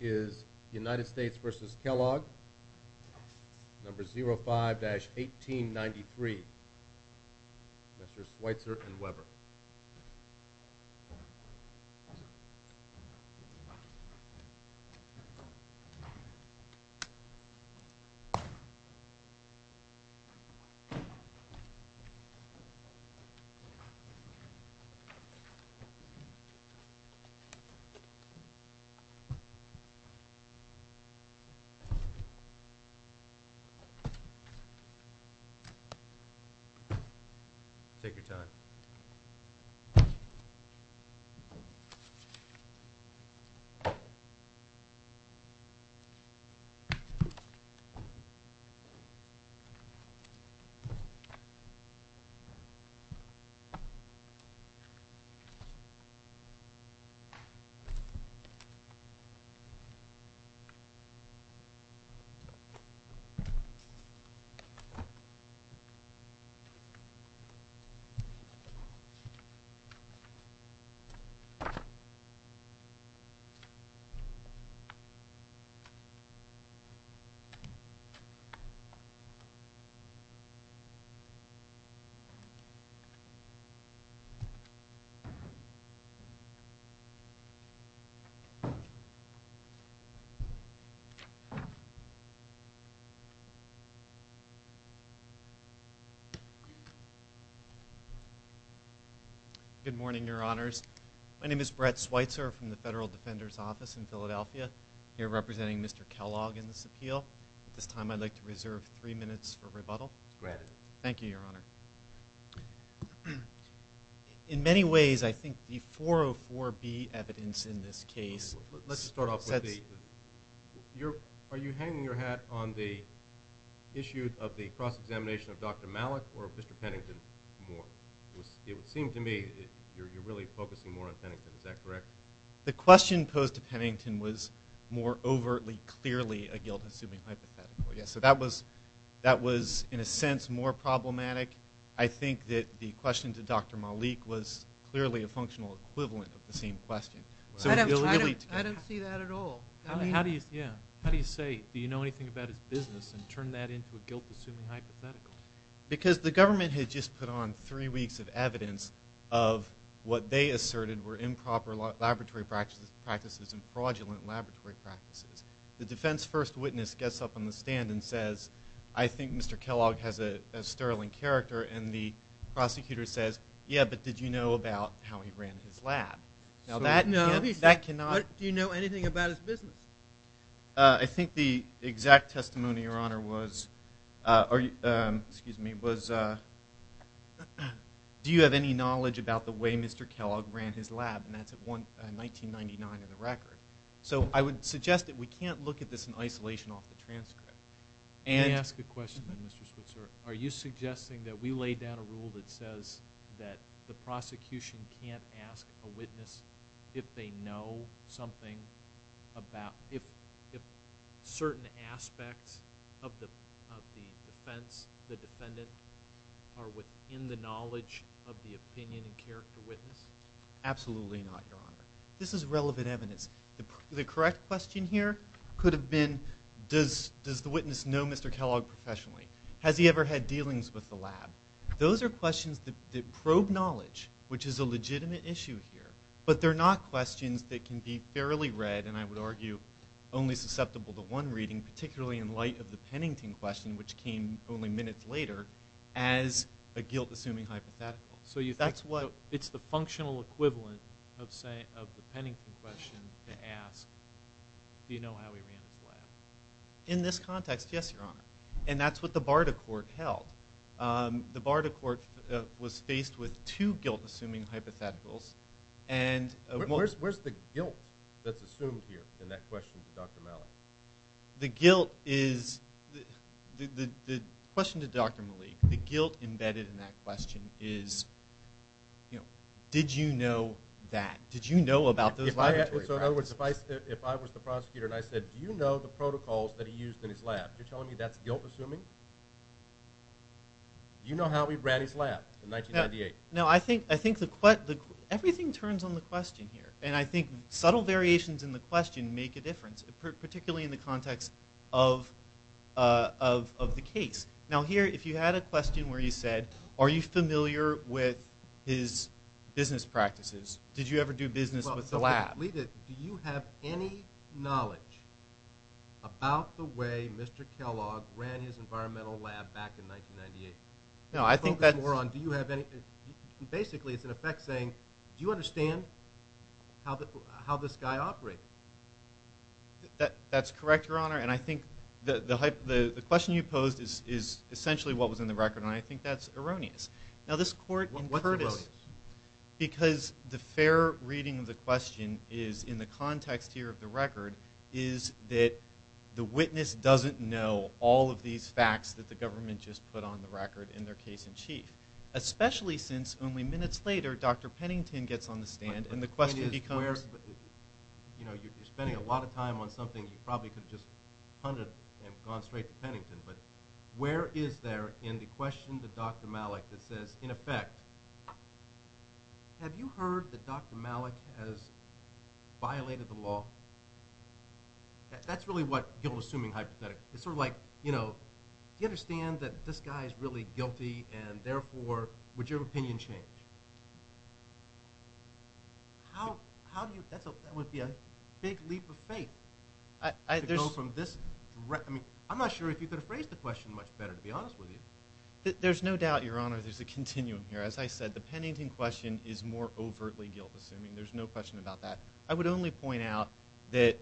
is United States v. Kellogg, No. 05-1893, Mr. Schweitzer and Weber. Good morning, Your Honors. My name is Brett Schweitzer from the Federal Defender's Office in Philadelphia. I'm here representing Mr. Kellogg in this appeal. At this time, I'd like to reserve three minutes for rebuttal. Go ahead. Thank you, Your Honor. In many ways, I think the 404B evidence in this case, let's start off with the, are you hanging your hat on the issue of the cross-examination of Dr. Malik or Mr. Pennington more? It would seem to me you're really focusing more on Pennington. Is that correct? The question posed to Pennington was more overtly, clearly a guilt-assuming hypothetical. Yes, so that was in a sense more problematic. I think that the question to Dr. Malik was clearly a functional equivalent of the same question. I don't see that at all. How do you, yeah, how do you say, do you know anything about his business and turn that into a guilt-assuming hypothetical? Because the government had just put on three weeks of evidence of what they asserted were improper laboratory practices and fraudulent laboratory practices. The defense first witness gets up on the stand and says, I think Mr. Kellogg has a sterling character. And the prosecutor says, yeah, but did you know about how he ran his lab? Now, that cannot. Do you know anything about his business? I think the exact testimony, Your Honor, was, do you have any knowledge about the way Mr. Kellogg ran his lab? And that's at 1999 in the record. So I would suggest that we can't look at this in isolation off the transcript. May I ask a question, then, Mr. Switzer? Are you suggesting that we lay down a rule that says that the prosecution can't ask a witness if they know something about, if certain aspects of the defense, the defendant, are within the knowledge of the opinion and character witness? Absolutely not, Your Honor. This is relevant evidence. The correct question here could have been, does the witness know Mr. Kellogg professionally? Has he ever had dealings with the lab? Those are questions that probe knowledge, which is a legitimate issue here. But they're not questions that can be fairly read, and I would argue only susceptible to one reading, particularly in light of the Pennington question, which came only minutes later, as a guilt-assuming hypothetical. So that's what, it's the functional equivalent of, say, of the Pennington question to ask, do you know how he ran his lab? In this context, yes, Your Honor. And that's what the Barta court held. The Barta court was faced with two guilt-assuming hypotheticals, and where's the guilt that's assumed here in that question to Dr. Malik? The guilt is, the question to Dr. Malik, the guilt embedded in that question is, did you know that? Did you know about those laboratories? So in other words, if I was the prosecutor and I said, do you know the protocols that he used in his lab? You're telling me that's guilt-assuming? You know how he ran his lab in 1998? No, I think everything turns on the question here, and I think subtle variations in the question make a difference, particularly in the context of the case. Now here, if you had a question where you said, are you familiar with his business practices? Did you ever do business with the lab? Do you have any knowledge about the way Mr. Kellogg ran his environmental lab back in 1998? No, I think that's more on, do you have any, basically, it's an effect saying, do you understand how this guy operated? That's correct, Your Honor, and I think the question you posed is essentially what was in the record, and I think that's erroneous. Now this court in Curtis, because the fair reading of the question is in the context here of the record, is that the witness doesn't know all of these facts that the government just put on the record in their case in chief, especially since only minutes later, Dr. Pennington gets on the stand and the question becomes, you know, you're spending a lot of time on something you probably could have just hunted and gone straight to Pennington, but where is there in the question to Dr. Malik that says, in effect, have you heard that Dr. Malik has violated the law? That's really what guilt-assuming hypothetical, it's sort of like, you know, do you understand that this guy is really guilty and therefore, would your opinion change? How, I mean, I'm not sure if you could have phrased the question much better, to be honest with you. There's no doubt, Your Honor, there's a continuum here. As I said, the Pennington question is more overtly guilt-assuming. There's no question about that. I would only point out that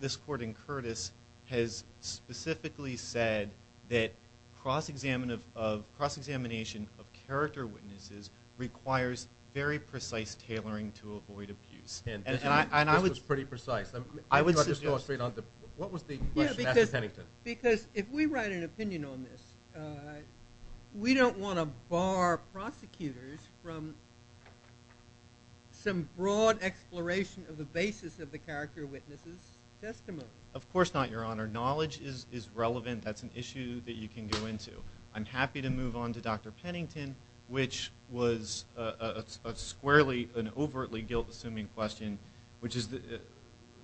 this court in Curtis has specifically said that cross-examination of character witnesses requires very precise analysis. What was the question to Dr. Pennington? Because if we write an opinion on this, we don't want to bar prosecutors from some broad exploration of the basis of the character witnesses' testimony. Of course not, Your Honor. Knowledge is relevant. That's an issue that you can go into. I'm happy to move on to Dr. Pennington, which was a squarely and overtly guilt-assuming question, which is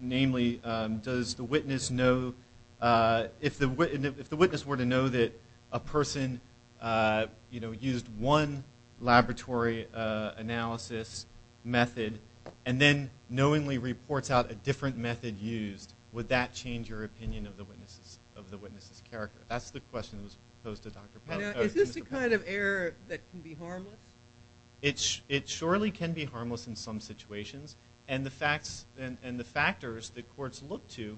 namely, does the witness know, if the witness were to know that a person, you know, used one laboratory analysis method and then knowingly reports out a different method used, would that change your opinion of the witness's character? That's the question that was posed to Dr. Pennington. Is this a kind of error that can be harmless? It surely can be harmless in some situations, and the facts and the factors that courts look to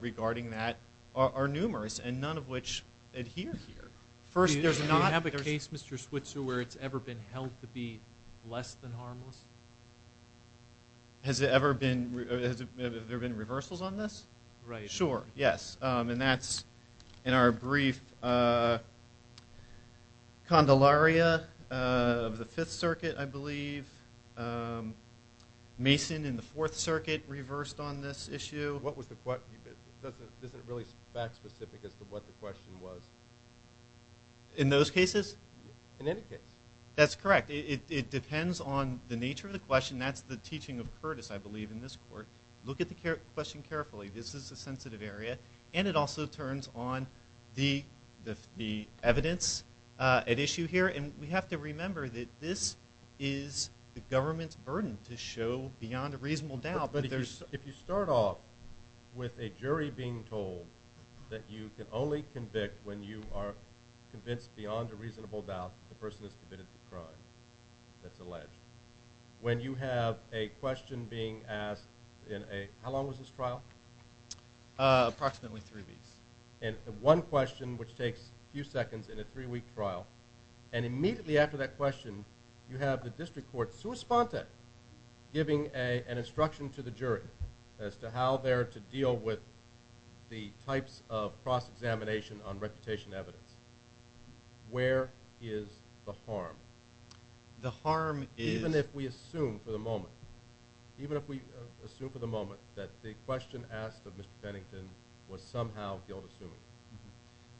regarding that are numerous and none of which adhere here. Do you have a case, Mr. Switzer, where it's ever been held to be less than harmless? Has there ever been reversals on this? Right. Sure, yes, and that's in our brief Condelaria of the Fifth Circuit, I believe. Mason in the Fourth Circuit reversed on this issue. What was the question? It isn't really fact-specific as to what the question was. In those cases? In any case. That's correct. It depends on the nature of the question. That's the teaching of Curtis, I believe, in this court. Look at the question carefully. This is a sensitive area, and it also turns on the evidence at issue here, and we have to remember that this is the government's burden to show beyond a reasonable doubt that there's... If you start off with a jury being told that you can only convict when you are convinced beyond a reasonable doubt the person has committed the crime that's alleged, when you have a question being asked in a... How long was this trial? Approximately three weeks. And one question which takes a few seconds in a three-week trial, and immediately after that question you have the district court sua sponte giving an instruction to the jury as to how they're to deal with the types of cross-examination on reputation evidence. Where is the harm? The harm is... Even if we assume for the moment, even if we assume for the moment that the question asked of Mr. Pennington was somehow guilt-assuming.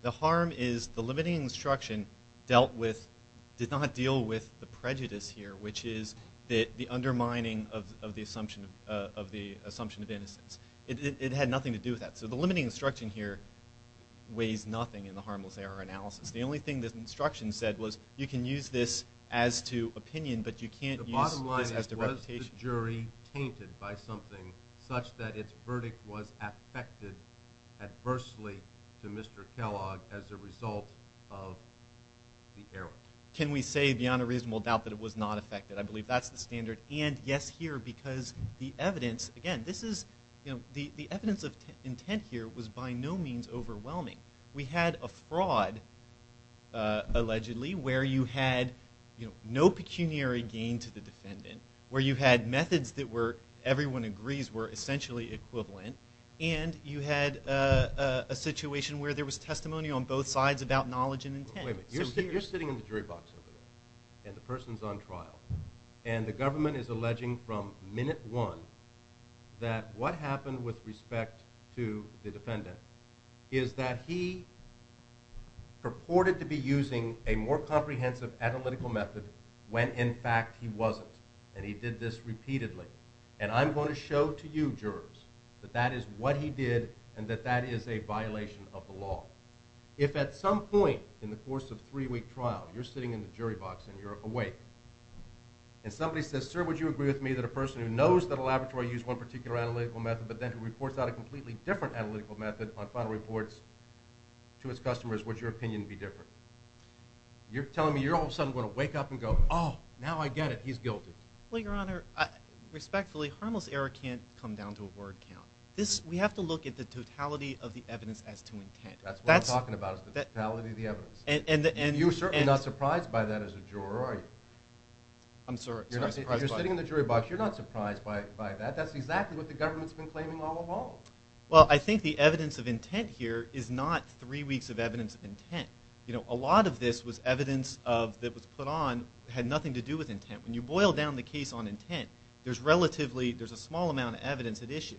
The harm is the limiting instruction dealt with... Did not deal with the prejudice here, which is the undermining of the assumption of the assumption of innocence. It had nothing to do with that. So the limiting instruction here weighs nothing in the harmless error analysis. The only thing this instruction said was you can use this as to opinion, but you can't use this as to reputation. Can we say beyond a reasonable doubt that it was not affected? I believe that's the standard. And yes here, because the evidence, again, this is, you know, the evidence of intent here was by no means overwhelming. We had a fraud, allegedly, where you had, you know, no pecuniary gain to the defendant. Where you had methods that were, everyone agrees, were essentially equivalent. And you had a situation where there was testimony on both sides about knowledge and intent. You're sitting in the jury box and the person's on trial and the government is alleging from minute one that what happened with respect to the defendant is that he purported to be using a more comprehensive analytical method when in fact he wasn't. And he did this repeatedly. And I'm going to show to you jurors that that is what he did and that that is a violation of the law. If at some point in the course of three-week trial you're sitting in the jury box and you're awake and somebody says, sir, would you agree with me that a person who knows that a laboratory used one particular analytical method but then who reports out a completely different analytical method on final reports to its customers, would your opinion be different? You're telling me you're all of a sudden going to wake up and go, oh, now I get it, he's guilty. Well, your honor, respectfully, harmless error can't come down to a word count. This, we have to look at the totality of the evidence as to intent. That's what I'm talking about, is the totality of the evidence. And you're certainly not surprised by that as a juror, are you? I'm sorry? You're sitting in the jury box, you're not surprised by that. That's exactly what the government's been claiming all along. Well, I think the evidence of intent here is not three weeks of evidence of intent. You know, a lot of this was evidence that was put on that had nothing to do with intent. When you boil down the case on intent, there's relatively, there's a small amount of evidence at issue.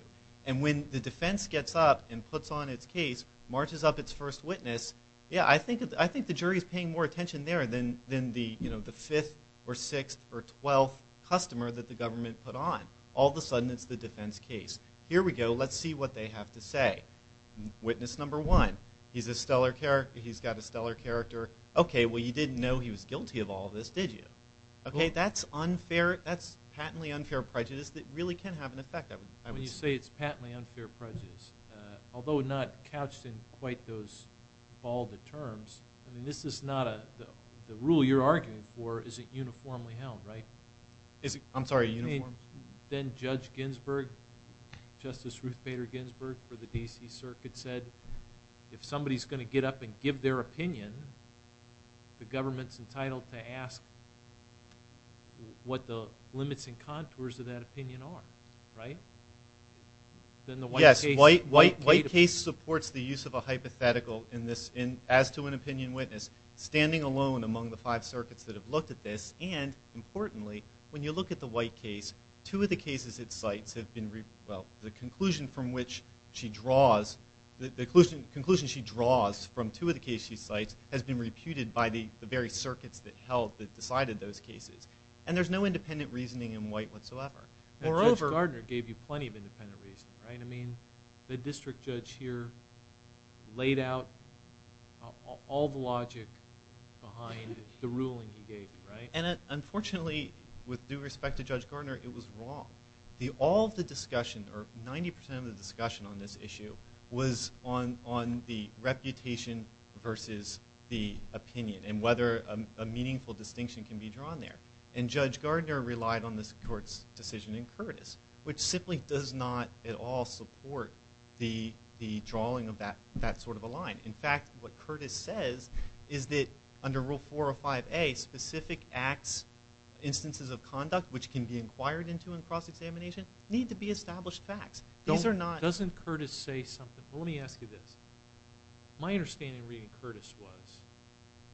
And when the defense gets up and puts on its case, marches up its first witness, yeah, I think the jury is paying more attention there than the, you know, the fifth or sixth or twelfth customer that the government put on. All of a sudden, it's the defense case. Here we go, let's see what they have to say. Witness number one, he's a stellar character, he's got a stellar character. Okay, well, you didn't know he was guilty of all this, did you? Okay, that's unfair. That's patently unfair prejudice that really can have an effect. I would say it's patently unfair prejudice, although not couched in quite those balder terms. I mean, the rule you're arguing for isn't uniformly held, right? I'm sorry, uniform? Then Judge Ginsburg, Justice Ruth Bader Ginsburg for the D.C. Circuit said, if somebody's going to get up and give their opinion, the government's entitled to ask what the limits and contours of that opinion are, right? Yes, white case supports the use of a hypothetical in this, as to an opinion witness, standing alone among the five circuits that have looked at this, and importantly, when you look at the white case, two of the cases it cites have been, well, the conclusion from which she draws, the conclusion she draws from two of the cases she cites has been reputed by the very circuits that held, that decided those cases. And there's no independent reasoning in white whatsoever. Moreover, Judge Gardner gave you plenty of independent reasoning, right? I mean, the district judge here laid out all the logic behind the ruling he gave you, right? And unfortunately, with due respect to Judge Gardner, it was wrong. All of the discussion, or 90% of the discussion on this issue was on the reputation versus the opinion, and whether a meaningful distinction can be drawn there. And Judge Gardner relied on this court's decision in the drawing of that sort of a line. In fact, what Curtis says is that under Rule 405A, specific acts, instances of conduct which can be inquired into in cross-examination need to be established facts. These are not... Doesn't Curtis say something? Well, let me ask you this. My understanding reading Curtis was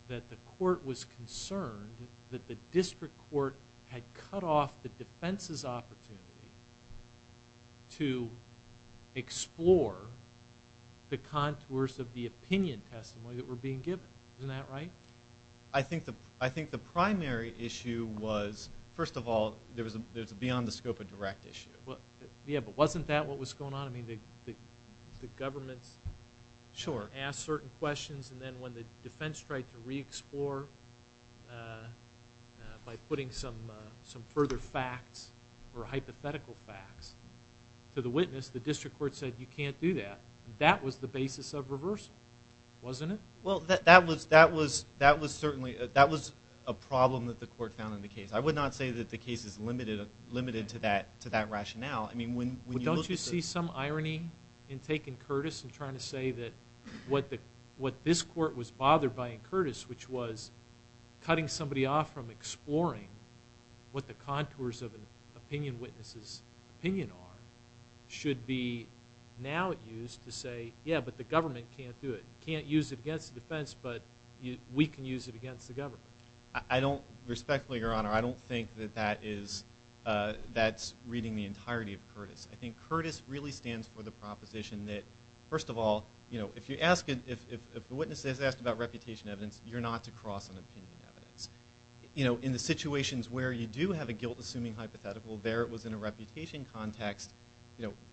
that the court was concerned that the district court had cut off the defense's opportunity to explore the contours of the opinion testimony that were being given. Isn't that right? I think the primary issue was, first of all, there's beyond the scope of direct issue. Yeah, but wasn't that what was going on? I mean, the government asked certain questions, and then when the defense tried to re-explore by putting some further facts or hypothetical facts to the witness, the district court said, you can't do that. That was the basis of reversal, wasn't it? Well, that was a problem that the court found in the case. I would not say that the case is limited to that rationale. I mean, don't you see some irony in taking Curtis and trying to say that what this court was bothered by in Curtis, which was cutting somebody off from exploring what the contours of an opinion witness's opinion are, should be now used to say, yeah, but the government can't do it. Can't use it against the defense, but we can use it against the government. I don't... Respectfully, Your Honor, I don't think that that's reading the entirety of Curtis. I think Curtis really stands for the proposition that, first of all, if the witness is asked about reputation evidence, you're not to cross on opinion evidence. In the situations where you do have a guilt-assuming hypothetical, there it was in a reputation context,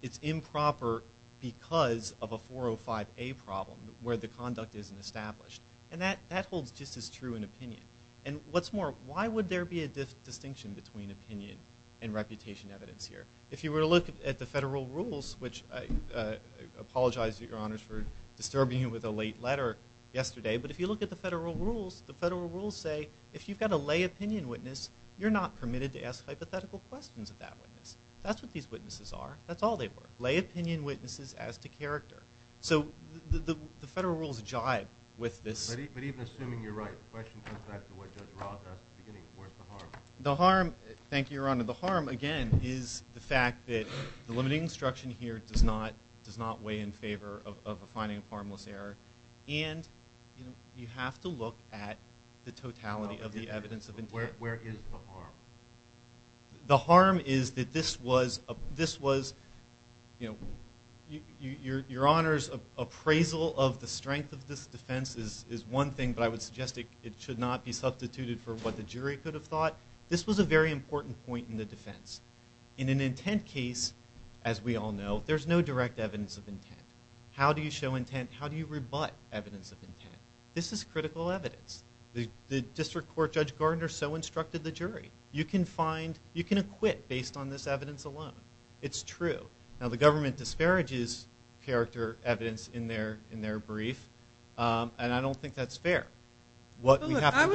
it's improper because of a 405A problem where the conduct isn't established. And that holds just as true in opinion. And what's more, why would there be a distinction between opinion and reputation evidence here? If you were to look at the federal rules, which I apologize, Your Honors, for disturbing you with a late letter yesterday, but if you look at the federal rules, the federal rules say if you've got a lay opinion witness, you're not permitted to ask hypothetical questions of that witness. That's what these witnesses are. That's all they were. Lay opinion witnesses as to character. So the federal rules jive with this. But even assuming you're right, the question comes back to what Judge Roth asked in the beginning. Where's the harm? The harm, thank you, Your Honor. The harm, again, is the fact that the limiting instruction here does not weigh in favor of a finding of harmless error. And you have to look at the totality of the evidence of intent. Where is the harm? The harm is that this was, Your Honors, appraisal of the strength of this defense is one thing, but I would suggest it should not be substituted for what the jury could have thought. This was a very important point in the defense. In an intent case, as we all know, there's no direct evidence of intent. How do you show intent? How do you rebut evidence of intent? This is critical evidence. The District Court Judge Gardner so instructed the jury. You can find, you can acquit based on this evidence alone. It's true. Now the government disparages character evidence in their brief, and I don't think that's fair. I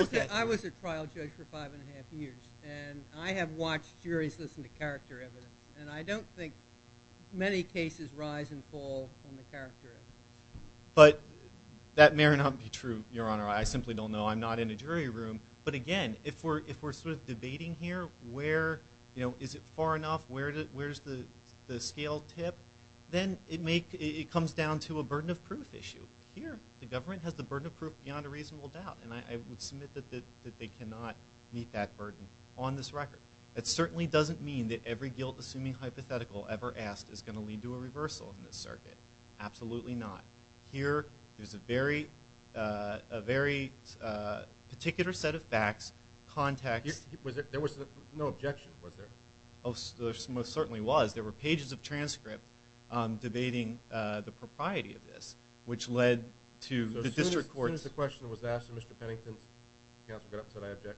was a trial judge for five and a half years, and I have watched juries listen to character evidence, and I don't think many cases rise and fall on the character. But that may or may not be true, Your Honor. I simply don't know. I'm not in a jury room. But again, if we're sort of debating here, where, you know, is it far enough? Where's the scale tip? Then it comes down to a burden of proof issue. Here, the government has the burden of proof beyond a reasonable doubt, and I would submit that they cannot meet that burden on this record. That certainly doesn't mean that every guilt-assuming hypothetical ever asked is going to lead to a reversal in this circuit. Absolutely not. Here, there's a very particular set of facts, context. There was no objection, was there? Oh, there most certainly was. There were pages of transcripts debating the propriety of this, which led to the district court. As soon as the question was asked of Mr. Pennington, counsel got up and said, I object.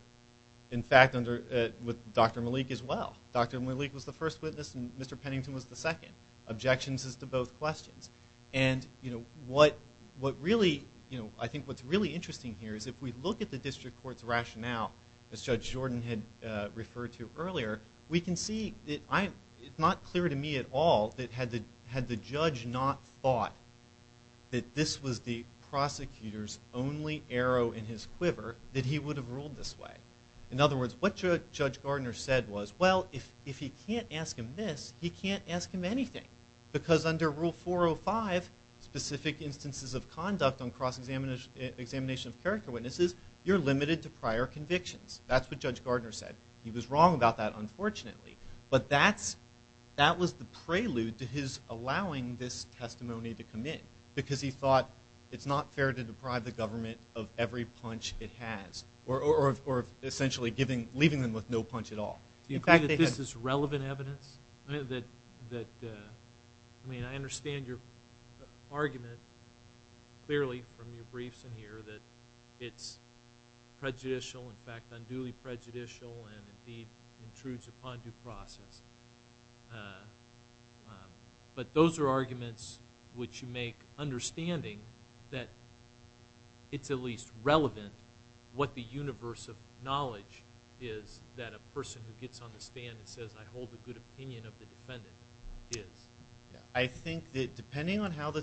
In fact, with Dr. Malik as well. Dr. Malik was the first witness, and Mr. Pennington was the second. Objections is to both questions. And, you know, what really, you know, I think what's really interesting here is if we look at the district court's rationale, as Judge Jordan had referred to earlier, we can see that it's not clear to me at all that had the judge not thought that this was the prosecutor's only arrow in his quiver, that he would have ruled this way. In other words, what Judge Gardner said was, well, if he can't ask him this, he can't ask him anything. Because under Rule 405, specific instances of conduct on cross-examination of character witnesses, you're limited to prior convictions. That's what Judge Gardner said. He was wrong about that, unfortunately. But that's, that was the prelude to his allowing this testimony to come in. Because he thought it's not fair to deprive the government of every punch it has. Or essentially giving, leaving them with no punch at all. Do you think that this is relevant evidence? I mean, I understand your argument clearly from your briefs in here that it's prejudicial, in fact unduly prejudicial, and indeed intrudes upon due process. But those are arguments which you make understanding that it's at least relevant what the universe of knowledge is that a person who gets on the stand and says, I hold a good opinion of the defendant, is. I think that depending on how the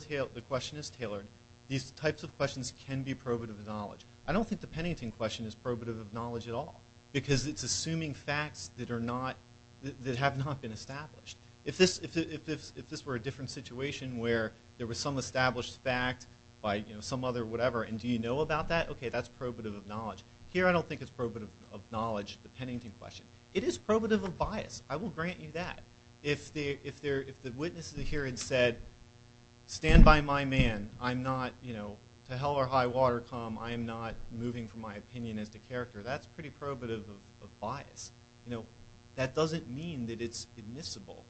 question is tailored, these types of questions can be probative of knowledge. I don't think the Pennington question is probative of knowledge at all. Because it's assuming facts that are not, that have not been established. If this, if this were a different situation where there was some established fact by some other whatever, and do you know about that? Okay, that's probative of knowledge. Here I don't think it's probative of knowledge, the Pennington question. It is probative of bias. I will grant you that. If the witnesses here had said, stand by my man, I'm not, you know, to hell or high water come, I am not moving from my opinion as to character, that's pretty probative of bias. You know, that doesn't mean that it's admissible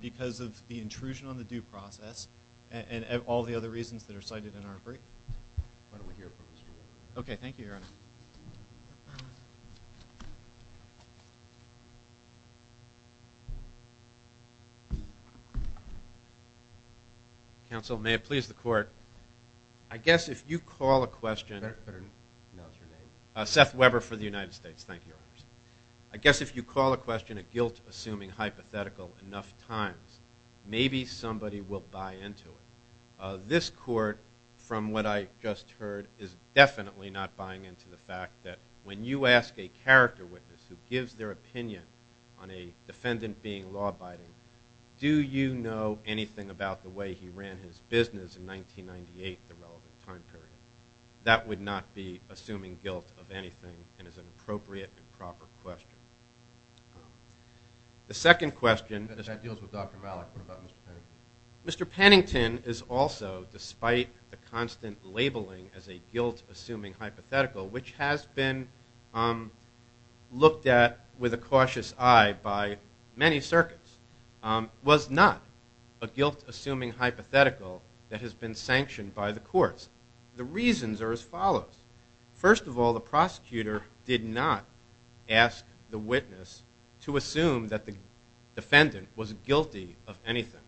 because of the intrusion on the due process and all the other reasons that are cited in our brief. Why don't we hear from him? Okay, thank you, Your Honor. Counsel, may it please the court, I guess if you call a question, Seth Weber for the United States, thank you. I guess if you call a question a guilt-assuming, hypothetical enough times, maybe somebody will buy into it. This court, from what I just heard, is definitely not buying into the fact that when you ask a character witness who gives their opinion on a defendant being law-abiding, do you know anything about the way he ran his business in 1998, the relevant time period? That would not be assuming guilt of anything and is an appropriate and proper question. The second question, Mr. Pennington is also, despite the constant labeling as a guilt-assuming hypothetical, which has been looked at with a cautious eye by many circuits, was not a guilt-assuming hypothetical that has been sanctioned by the courts. The reasons are as follows. First of all, the prosecutor did not ask the witness to assume that the defendant was guilty of anything.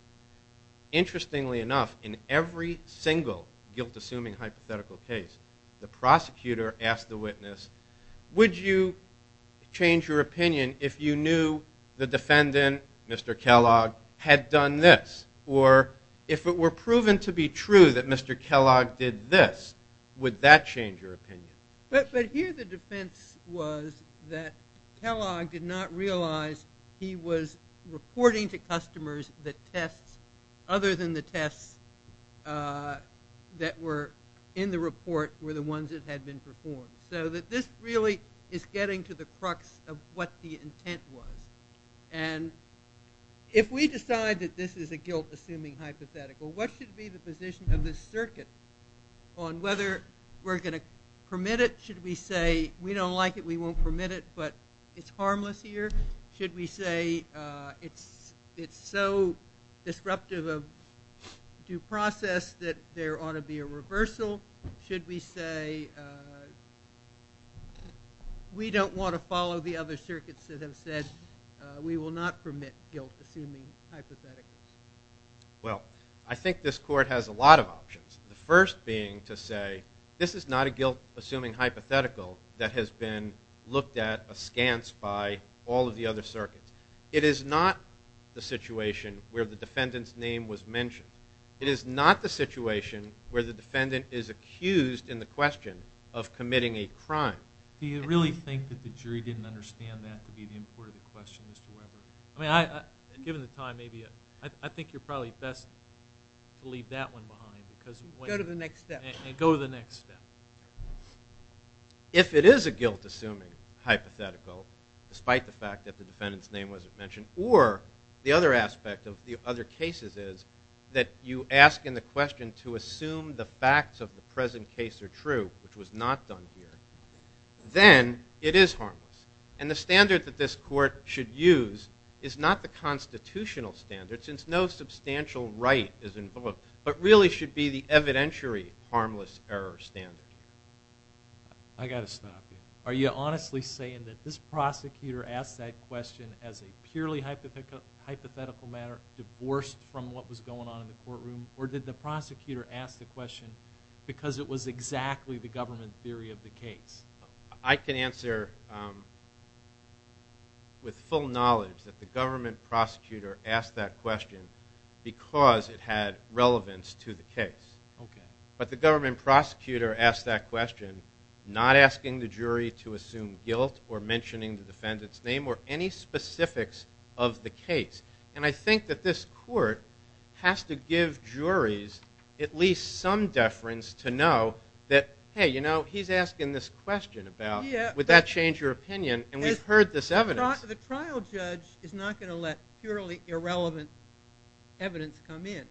Interestingly enough, in every single guilt-assuming hypothetical case, the prosecutor asked the witness, would you change your opinion if you knew the defendant, Mr. Kellogg, had done this? Or if it were proven to be true that Mr. Kellogg did this, would that change your opinion? But here the defense was that Kellogg did not realize he was reporting to customers that tests other than the tests that were in the report were the ones that the intent was. And if we decide that this is a guilt-assuming hypothetical, what should be the position of this circuit on whether we're going to permit it? Should we say we don't like it, we won't permit it, but it's harmless here? Should we say it's so disruptive of due process that there ought to be a reversal? Should we say we don't want to follow the other circuits that have said we will not permit guilt-assuming hypotheticals? Well, I think this court has a lot of options. The first being to say this is not a guilt-assuming hypothetical that has been looked at askance by all of the other circuits. It is not the situation where the defendant's name was mentioned. It is not the situation where the defendant is accused in the question of committing a crime. Do you really think that the jury didn't understand that to be the import of the question, Mr. Weber? I mean, given the time, maybe I think you're probably best to leave that one behind. Go to the next step. If it is a guilt-assuming hypothetical, despite the fact that the defendant's name wasn't mentioned, or the other aspect of the other cases is that you ask in the question to assume the facts of the present case are true, which was not done here, then it is harmless. And the standard that this court should use is not the constitutional standard, since no substantial right is involved, but really should be the evidentiary harmless error standard. I got to stop you. Are you honestly saying that this prosecutor asked that question as a purely hypothetical hypothetical matter, divorced from what was going on in the courtroom, or did the prosecutor ask the question because it was exactly the government theory of the case? I can answer with full knowledge that the government prosecutor asked that question because it had relevance to the case. Okay. But the government prosecutor asked that question, not asking the jury to assume guilt or mentioning the defendant's name or any specifics of the case. And I think that this court has to give juries at least some deference to know that, hey, you know, he's asking this question about, would that change your opinion? And we've heard this evidence. The trial judge is not going to let purely irrelevant evidence come in.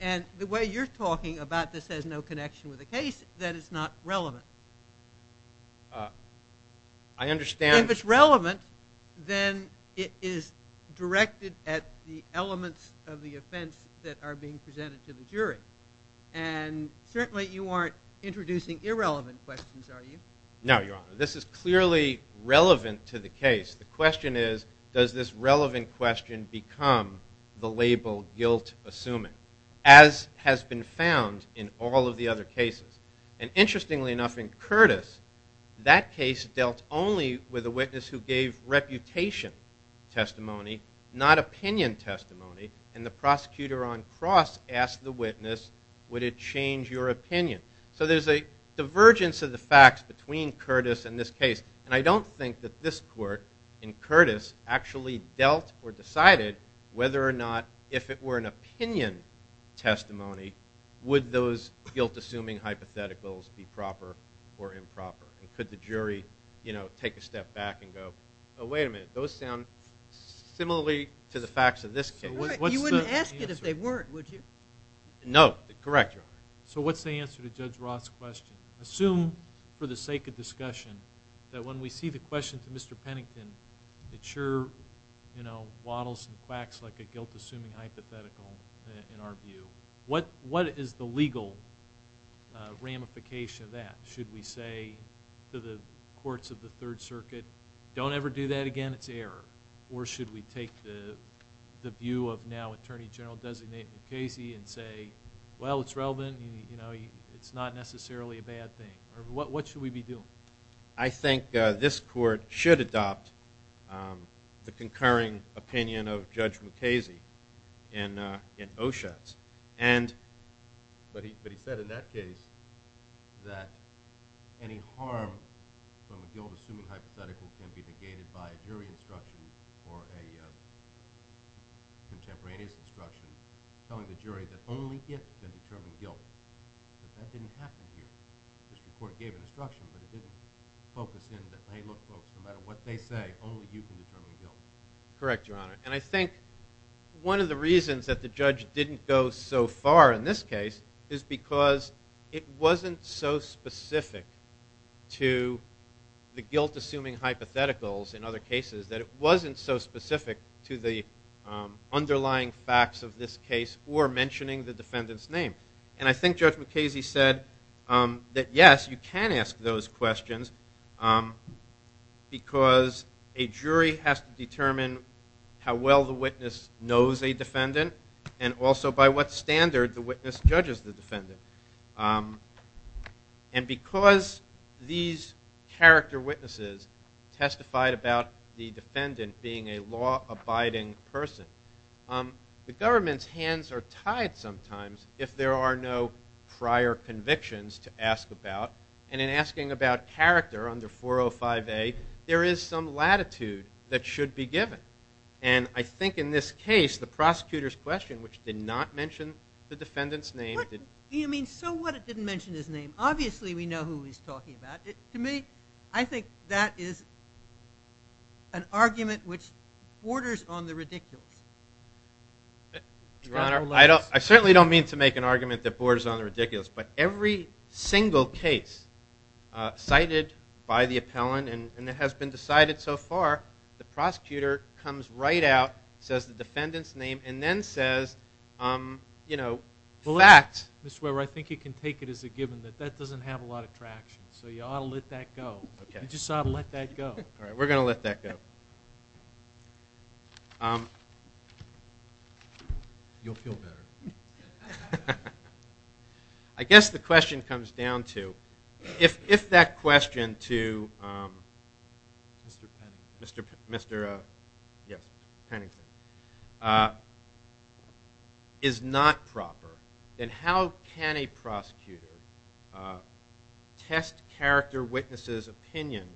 And the way you're talking about this has no connection with the case, then it's not relevant. I understand. If it's relevant, then it is directed at the elements of the offense that are being presented to the jury. And certainly you aren't introducing irrelevant questions, are you? No, Your Honor. This is clearly relevant to the case. The question is, does this relevant question become the label guilt-assuming, as has been found in all of the other cases? And interestingly enough, in Curtis, that case dealt only with a witness who gave reputation testimony, not opinion testimony. And the prosecutor on cross asked the witness, would it change your opinion? So there's a divergence of the facts between Curtis and this case. And I don't think that this court in Curtis actually dealt or decided whether or not, if it were an opinion testimony, would those guilt-assuming hypotheticals be proper or improper? And could the jury, you know, take a step back and go, oh, wait a minute. Those sound similarly to the facts of this case. You wouldn't ask it if they weren't, would you? No. Correct, Your Honor. So what's the answer to Judge Roth's question? Assume for the sake of discussion that when we see the question to Mr. Pennington, it sure, you know, waddles and quacks like a guilt-assuming hypothetical in our view. What is the legal ramification of that? Should we say to the courts of the Third Circuit, don't ever do that again, it's error? Or should we take the view of now Attorney General-designate Mukasey and say, well, it's relevant, you know, it's not necessarily a bad thing? Or what should we be doing? I think this court should adopt the concurring opinion of Judge Mukasey in Oshutz. But he said in that case that any harm from a guilt-assuming hypothetical can be negated by a jury instruction or a defendant can determine guilt. But that didn't happen here. This court gave an instruction, but it didn't focus in that, hey, look folks, no matter what they say, only you can determine guilt. Correct, Your Honor. And I think one of the reasons that the judge didn't go so far in this case is because it wasn't so specific to the guilt-assuming hypotheticals in other cases that it wasn't so specific. And I think Judge Mukasey said that, yes, you can ask those questions because a jury has to determine how well the witness knows a defendant and also by what standard the witness judges the defendant. And because these character witnesses testified about the defendant being a law-abiding person, the government's hands are tied sometimes if there are no prior convictions to ask about. And in asking about character under 405A, there is some latitude that should be given. And I think in this case, the prosecutor's question, which did not mention the defendant's name, did... So what if it didn't mention his name? Obviously, we know who he's talking about. To me, I think that is an argument which borders on the ridiculous. Your Honor, I certainly don't mean to make an argument that borders on the ridiculous. But every single case cited by the appellant and that has been decided so far, the prosecutor comes right out, says the defendant's name, and then says, you know, in fact... Mr. Weber, I think you can take it as a given that that doesn't have a lot of traction. So you ought to let that go. You just ought to let that go. All right, we're going to let that go. You'll feel better. I guess the question comes down to, if that is not proper, then how can a prosecutor test character witnesses' opinion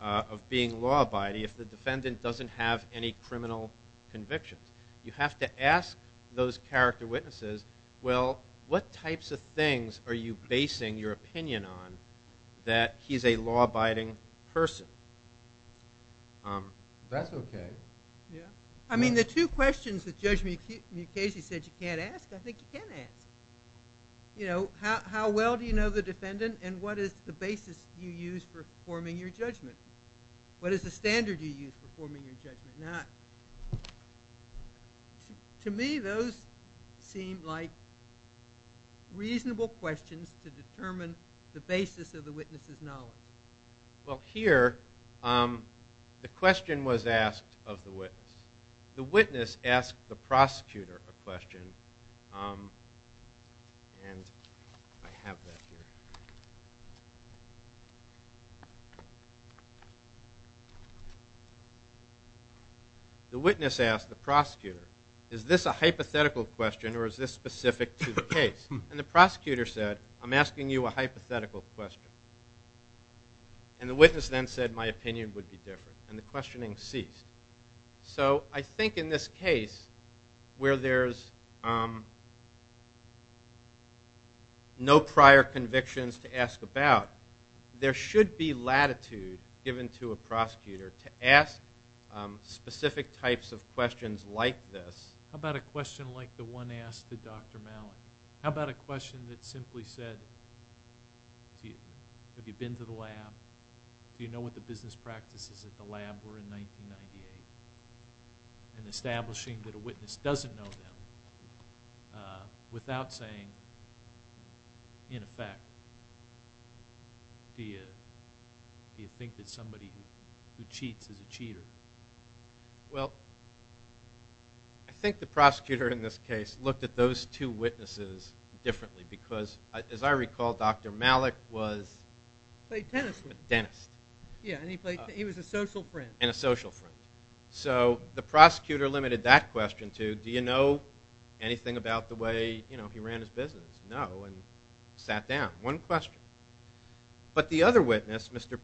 of being law-abiding if the defendant doesn't have any criminal convictions? You have to ask those character witnesses, well, what types of things are you basing your opinion on that he's a law-abiding person? That's okay. I mean, the two questions that Judge Mukasey said you can't ask, I think you can ask. You know, how well do you know the defendant and what is the basis you use for forming your judgment? What is the standard you use for forming your judgment? Now, to me, those seem like reasonable questions to determine the basis of the witness' knowledge. Here, the question was asked of the witness. The witness asked the prosecutor a question. The witness asked the prosecutor, is this a hypothetical question or is this specific to the case? And the prosecutor said, I'm asking you a hypothetical question. And the witness then said, my opinion would be different. And the questioning ceased. So, I think in this case, where there's no prior convictions to ask about, there should be latitude given to a prosecutor to ask specific types of questions like this. How about a question like the one asked to Dr. Malik? How about a question that simply said, have you been to the lab? Do you know what the business practices at the lab were in 1998? And establishing that a witness doesn't know them without saying, in effect, do you think that somebody who cheats is a cheater? Well, I think the prosecutor in this case looked at those two witnesses differently because, as I recall, Dr. Malik was a dentist. He was a social friend. And a social friend. So, the prosecutor limited that question to, do you know anything about the way he ran his business? No, and sat down. One question. But the other witness, Mr.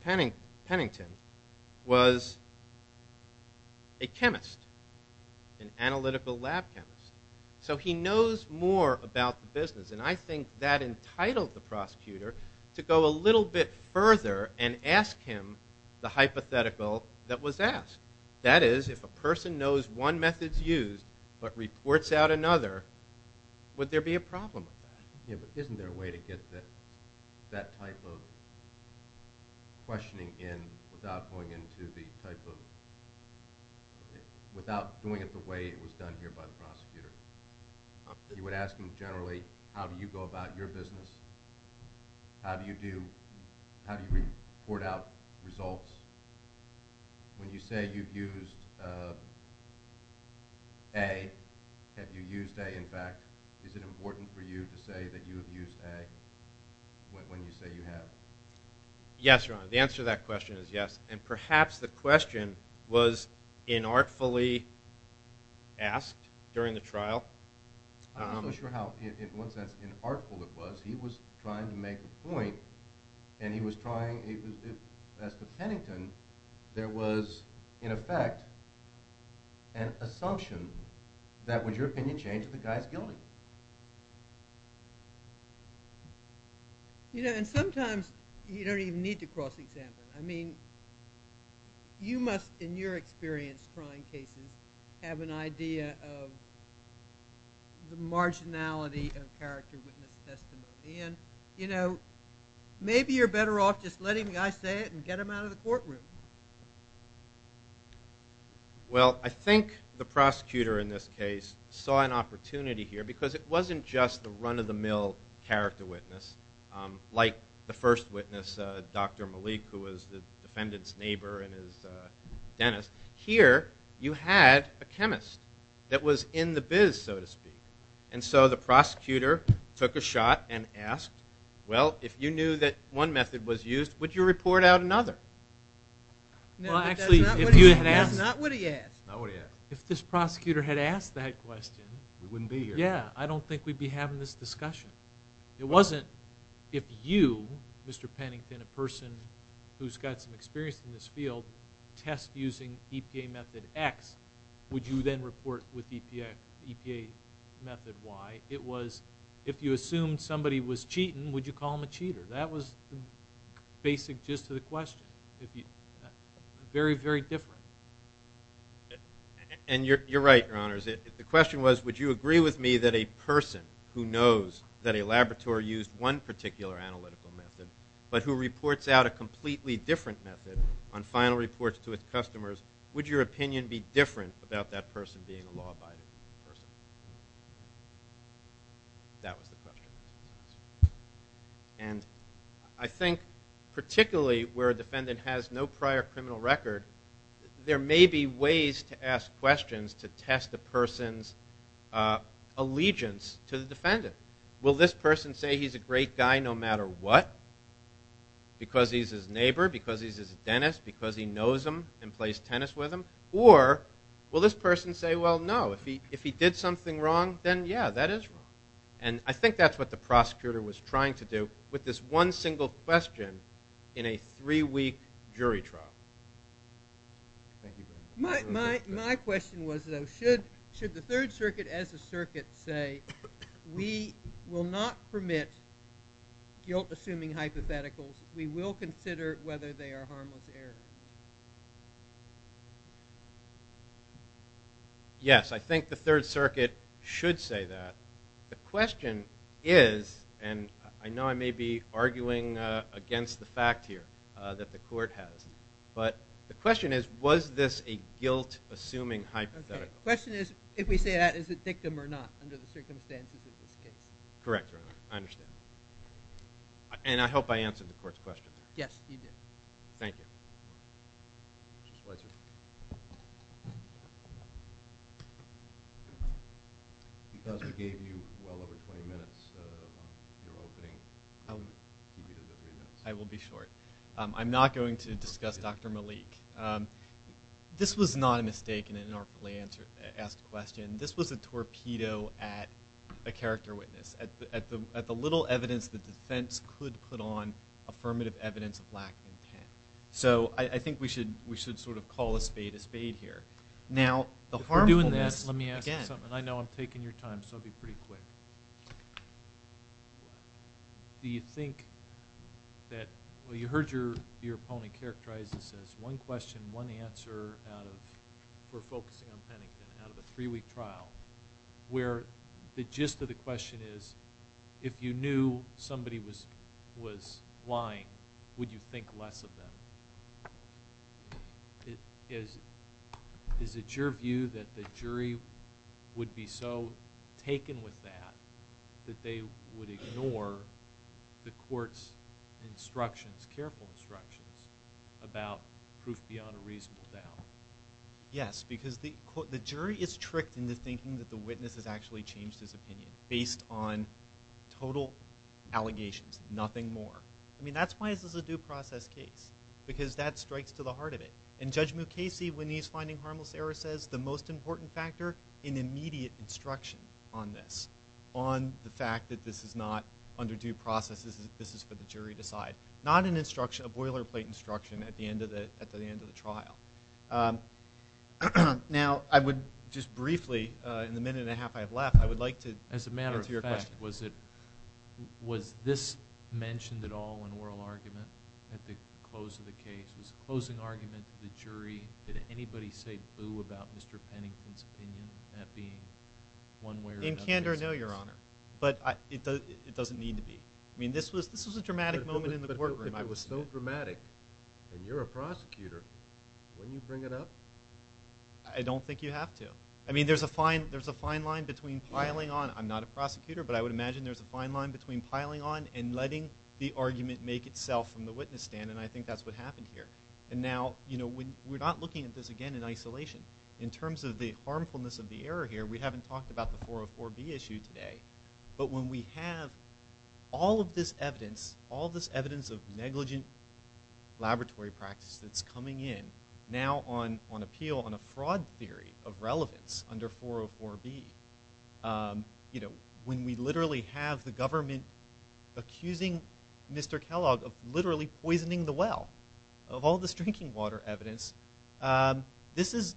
Pennington, was a chemist, an analytical lab chemist. So, he knows more about the business. And I think that entitled the prosecutor to go a little bit further and ask him the hypothetical that was asked. That is, if a person knows one method's used but reports out another, would there be a problem? Yeah, but isn't there a way to get that type of questioning in without going into the type of, without doing it the way it was done here by the prosecutor? You would ask them generally, how do you go about your business? How do you do, how do you report out results? When you say you've used A, have you used A, is it important for you to say that you've used A when you say you have? Yes, Ron. The answer to that question is yes. And perhaps the question was inartfully asked during the trial. I'm not sure how, in one sense, inartful it was. He was trying to make a point. And he was trying, as to Pennington, there was, in effect, an assumption that would, in your opinion, change the guy's guilty. You know, and sometimes you don't even need to cross-examine. I mean, you must, in your experience trying cases, have an idea of the marginality of character witness testimony. And, you know, maybe you're better off just letting the guy say it and get him out of the courtroom. Well, I think the prosecutor in this case saw an opportunity here because it wasn't just the run-of-the-mill character witness, like the first witness, Dr. Malik, who was the defendant's neighbor and his dentist. Here, you had a chemist that was in the biz, so to speak. And so the prosecutor took a shot and asked, well, if you knew that one another? Well, actually, if you had asked... That's not what he asked. Not what he asked. If this prosecutor had asked that question... We wouldn't be here. Yeah. I don't think we'd be having this discussion. It wasn't, if you, Mr. Pennington, a person who's got some experience in this field, test using EPA Method X, would you then report with EPA Method Y? It was, if you assumed somebody was cheating, would you call them a cheater? That was the basic gist of the question. Very, very different. And you're right, Your Honors. The question was, would you agree with me that a person who knows that a laboratory used one particular analytical method, but who reports out a completely different method on final reports to its customers, would your opinion be different about that person being a law-abiding person? That was the question. And I think particularly where a defendant has no prior criminal record, there may be ways to ask questions to test the person's allegiance to the defendant. Will this person say he's a great guy no matter what? Because he's his neighbor? Because he's his dentist? Because he knows him and plays tennis with him? Or will this person say, well, no, if he did something wrong, then, yeah, that is wrong. And I think that's what the prosecutor was trying to do with this one single question in a three-week jury trial. My question was, though, should the Third Circuit as a circuit say, we will not permit guilt-assuming hypotheticals. We will consider whether they are harmless error? Yes, I think the Third Circuit should say that. The question is, and I know I may be arguing against the fact here that the court has, but the question is, was this a guilt-assuming hypothetical? The question is, if we say that, is it victim or not under the circumstances of this case? Correct. I understand. And I hope I answered the court's question. Yes, you did. Thank you. Mr. Spicer? Because we gave you well over 20 minutes, your opening. I will be short. I'm not going to discuss Dr. Malik. This was not a mistake in an inaugurally asked question. This was a torpedo at a character witness, at the little evidence the defense could put on affirmative evidence of lack of intent. So I think we should sort of call a spade a spade here. If we're doing this, let me ask you something. I know I'm taking your time, so I'll be pretty quick. Do you think that, well, you heard your opponent characterize this as one question, one answer for focusing on Pennington out of a three-week trial, where the gist of the question is, if you knew somebody was lying, would you think less of them? Is it your view that the jury would be so taken with that that they would ignore the court's instructions, careful instructions, about proof beyond a reasonable doubt? Yes, because the jury is tricked into thinking that the witness has actually changed his opinion based on total allegations, nothing more. I mean, that's why this is a due process case, because that strikes to the heart of it. And Judge Mukasey, when he's finding harmless error, says the most important factor in immediate instruction on this, on the fact that this is not under due process, this is for the jury to decide. Not an instruction, a boilerplate at the end of the trial. Now, I would just briefly, in the minute and a half I have left, I would like to hear a question. As a matter of fact, was this mentioned at all in oral argument at the close of the case? Was the closing argument to the jury, did anybody say boo about Mr. Pennington's opinion at being one way or another? In candor, no, Your Honor, but it doesn't need to be. I mean, this was a dramatic moment in the courtroom. It was so dramatic, and you're a prosecutor, when you bring it up? I don't think you have to. I mean, there's a fine line between piling on, I'm not a prosecutor, but I would imagine there's a fine line between piling on and letting the argument make itself from the witness stand, and I think that's what happened here. And now, we're not looking at this again in isolation. In terms of the harmfulness of the error here, we haven't talked about the all this evidence of negligent laboratory practice that's coming in now on appeal, on a fraud theory of relevance under 404B. When we literally have the government accusing Mr. Kellogg of literally poisoning the well of all this drinking water evidence, this is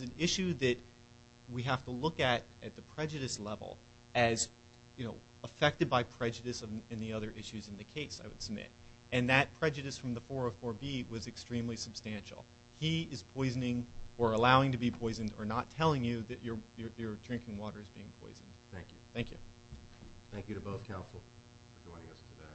an issue that we have to look at at the prejudice level as, you know, affected by prejudice and the other issues in the case, I would submit. And that prejudice from the 404B was extremely substantial. He is poisoning, or allowing to be poisoned, or not telling you that your drinking water is being poisoned. Thank you. Thank you. Thank you to both counsel for joining us today.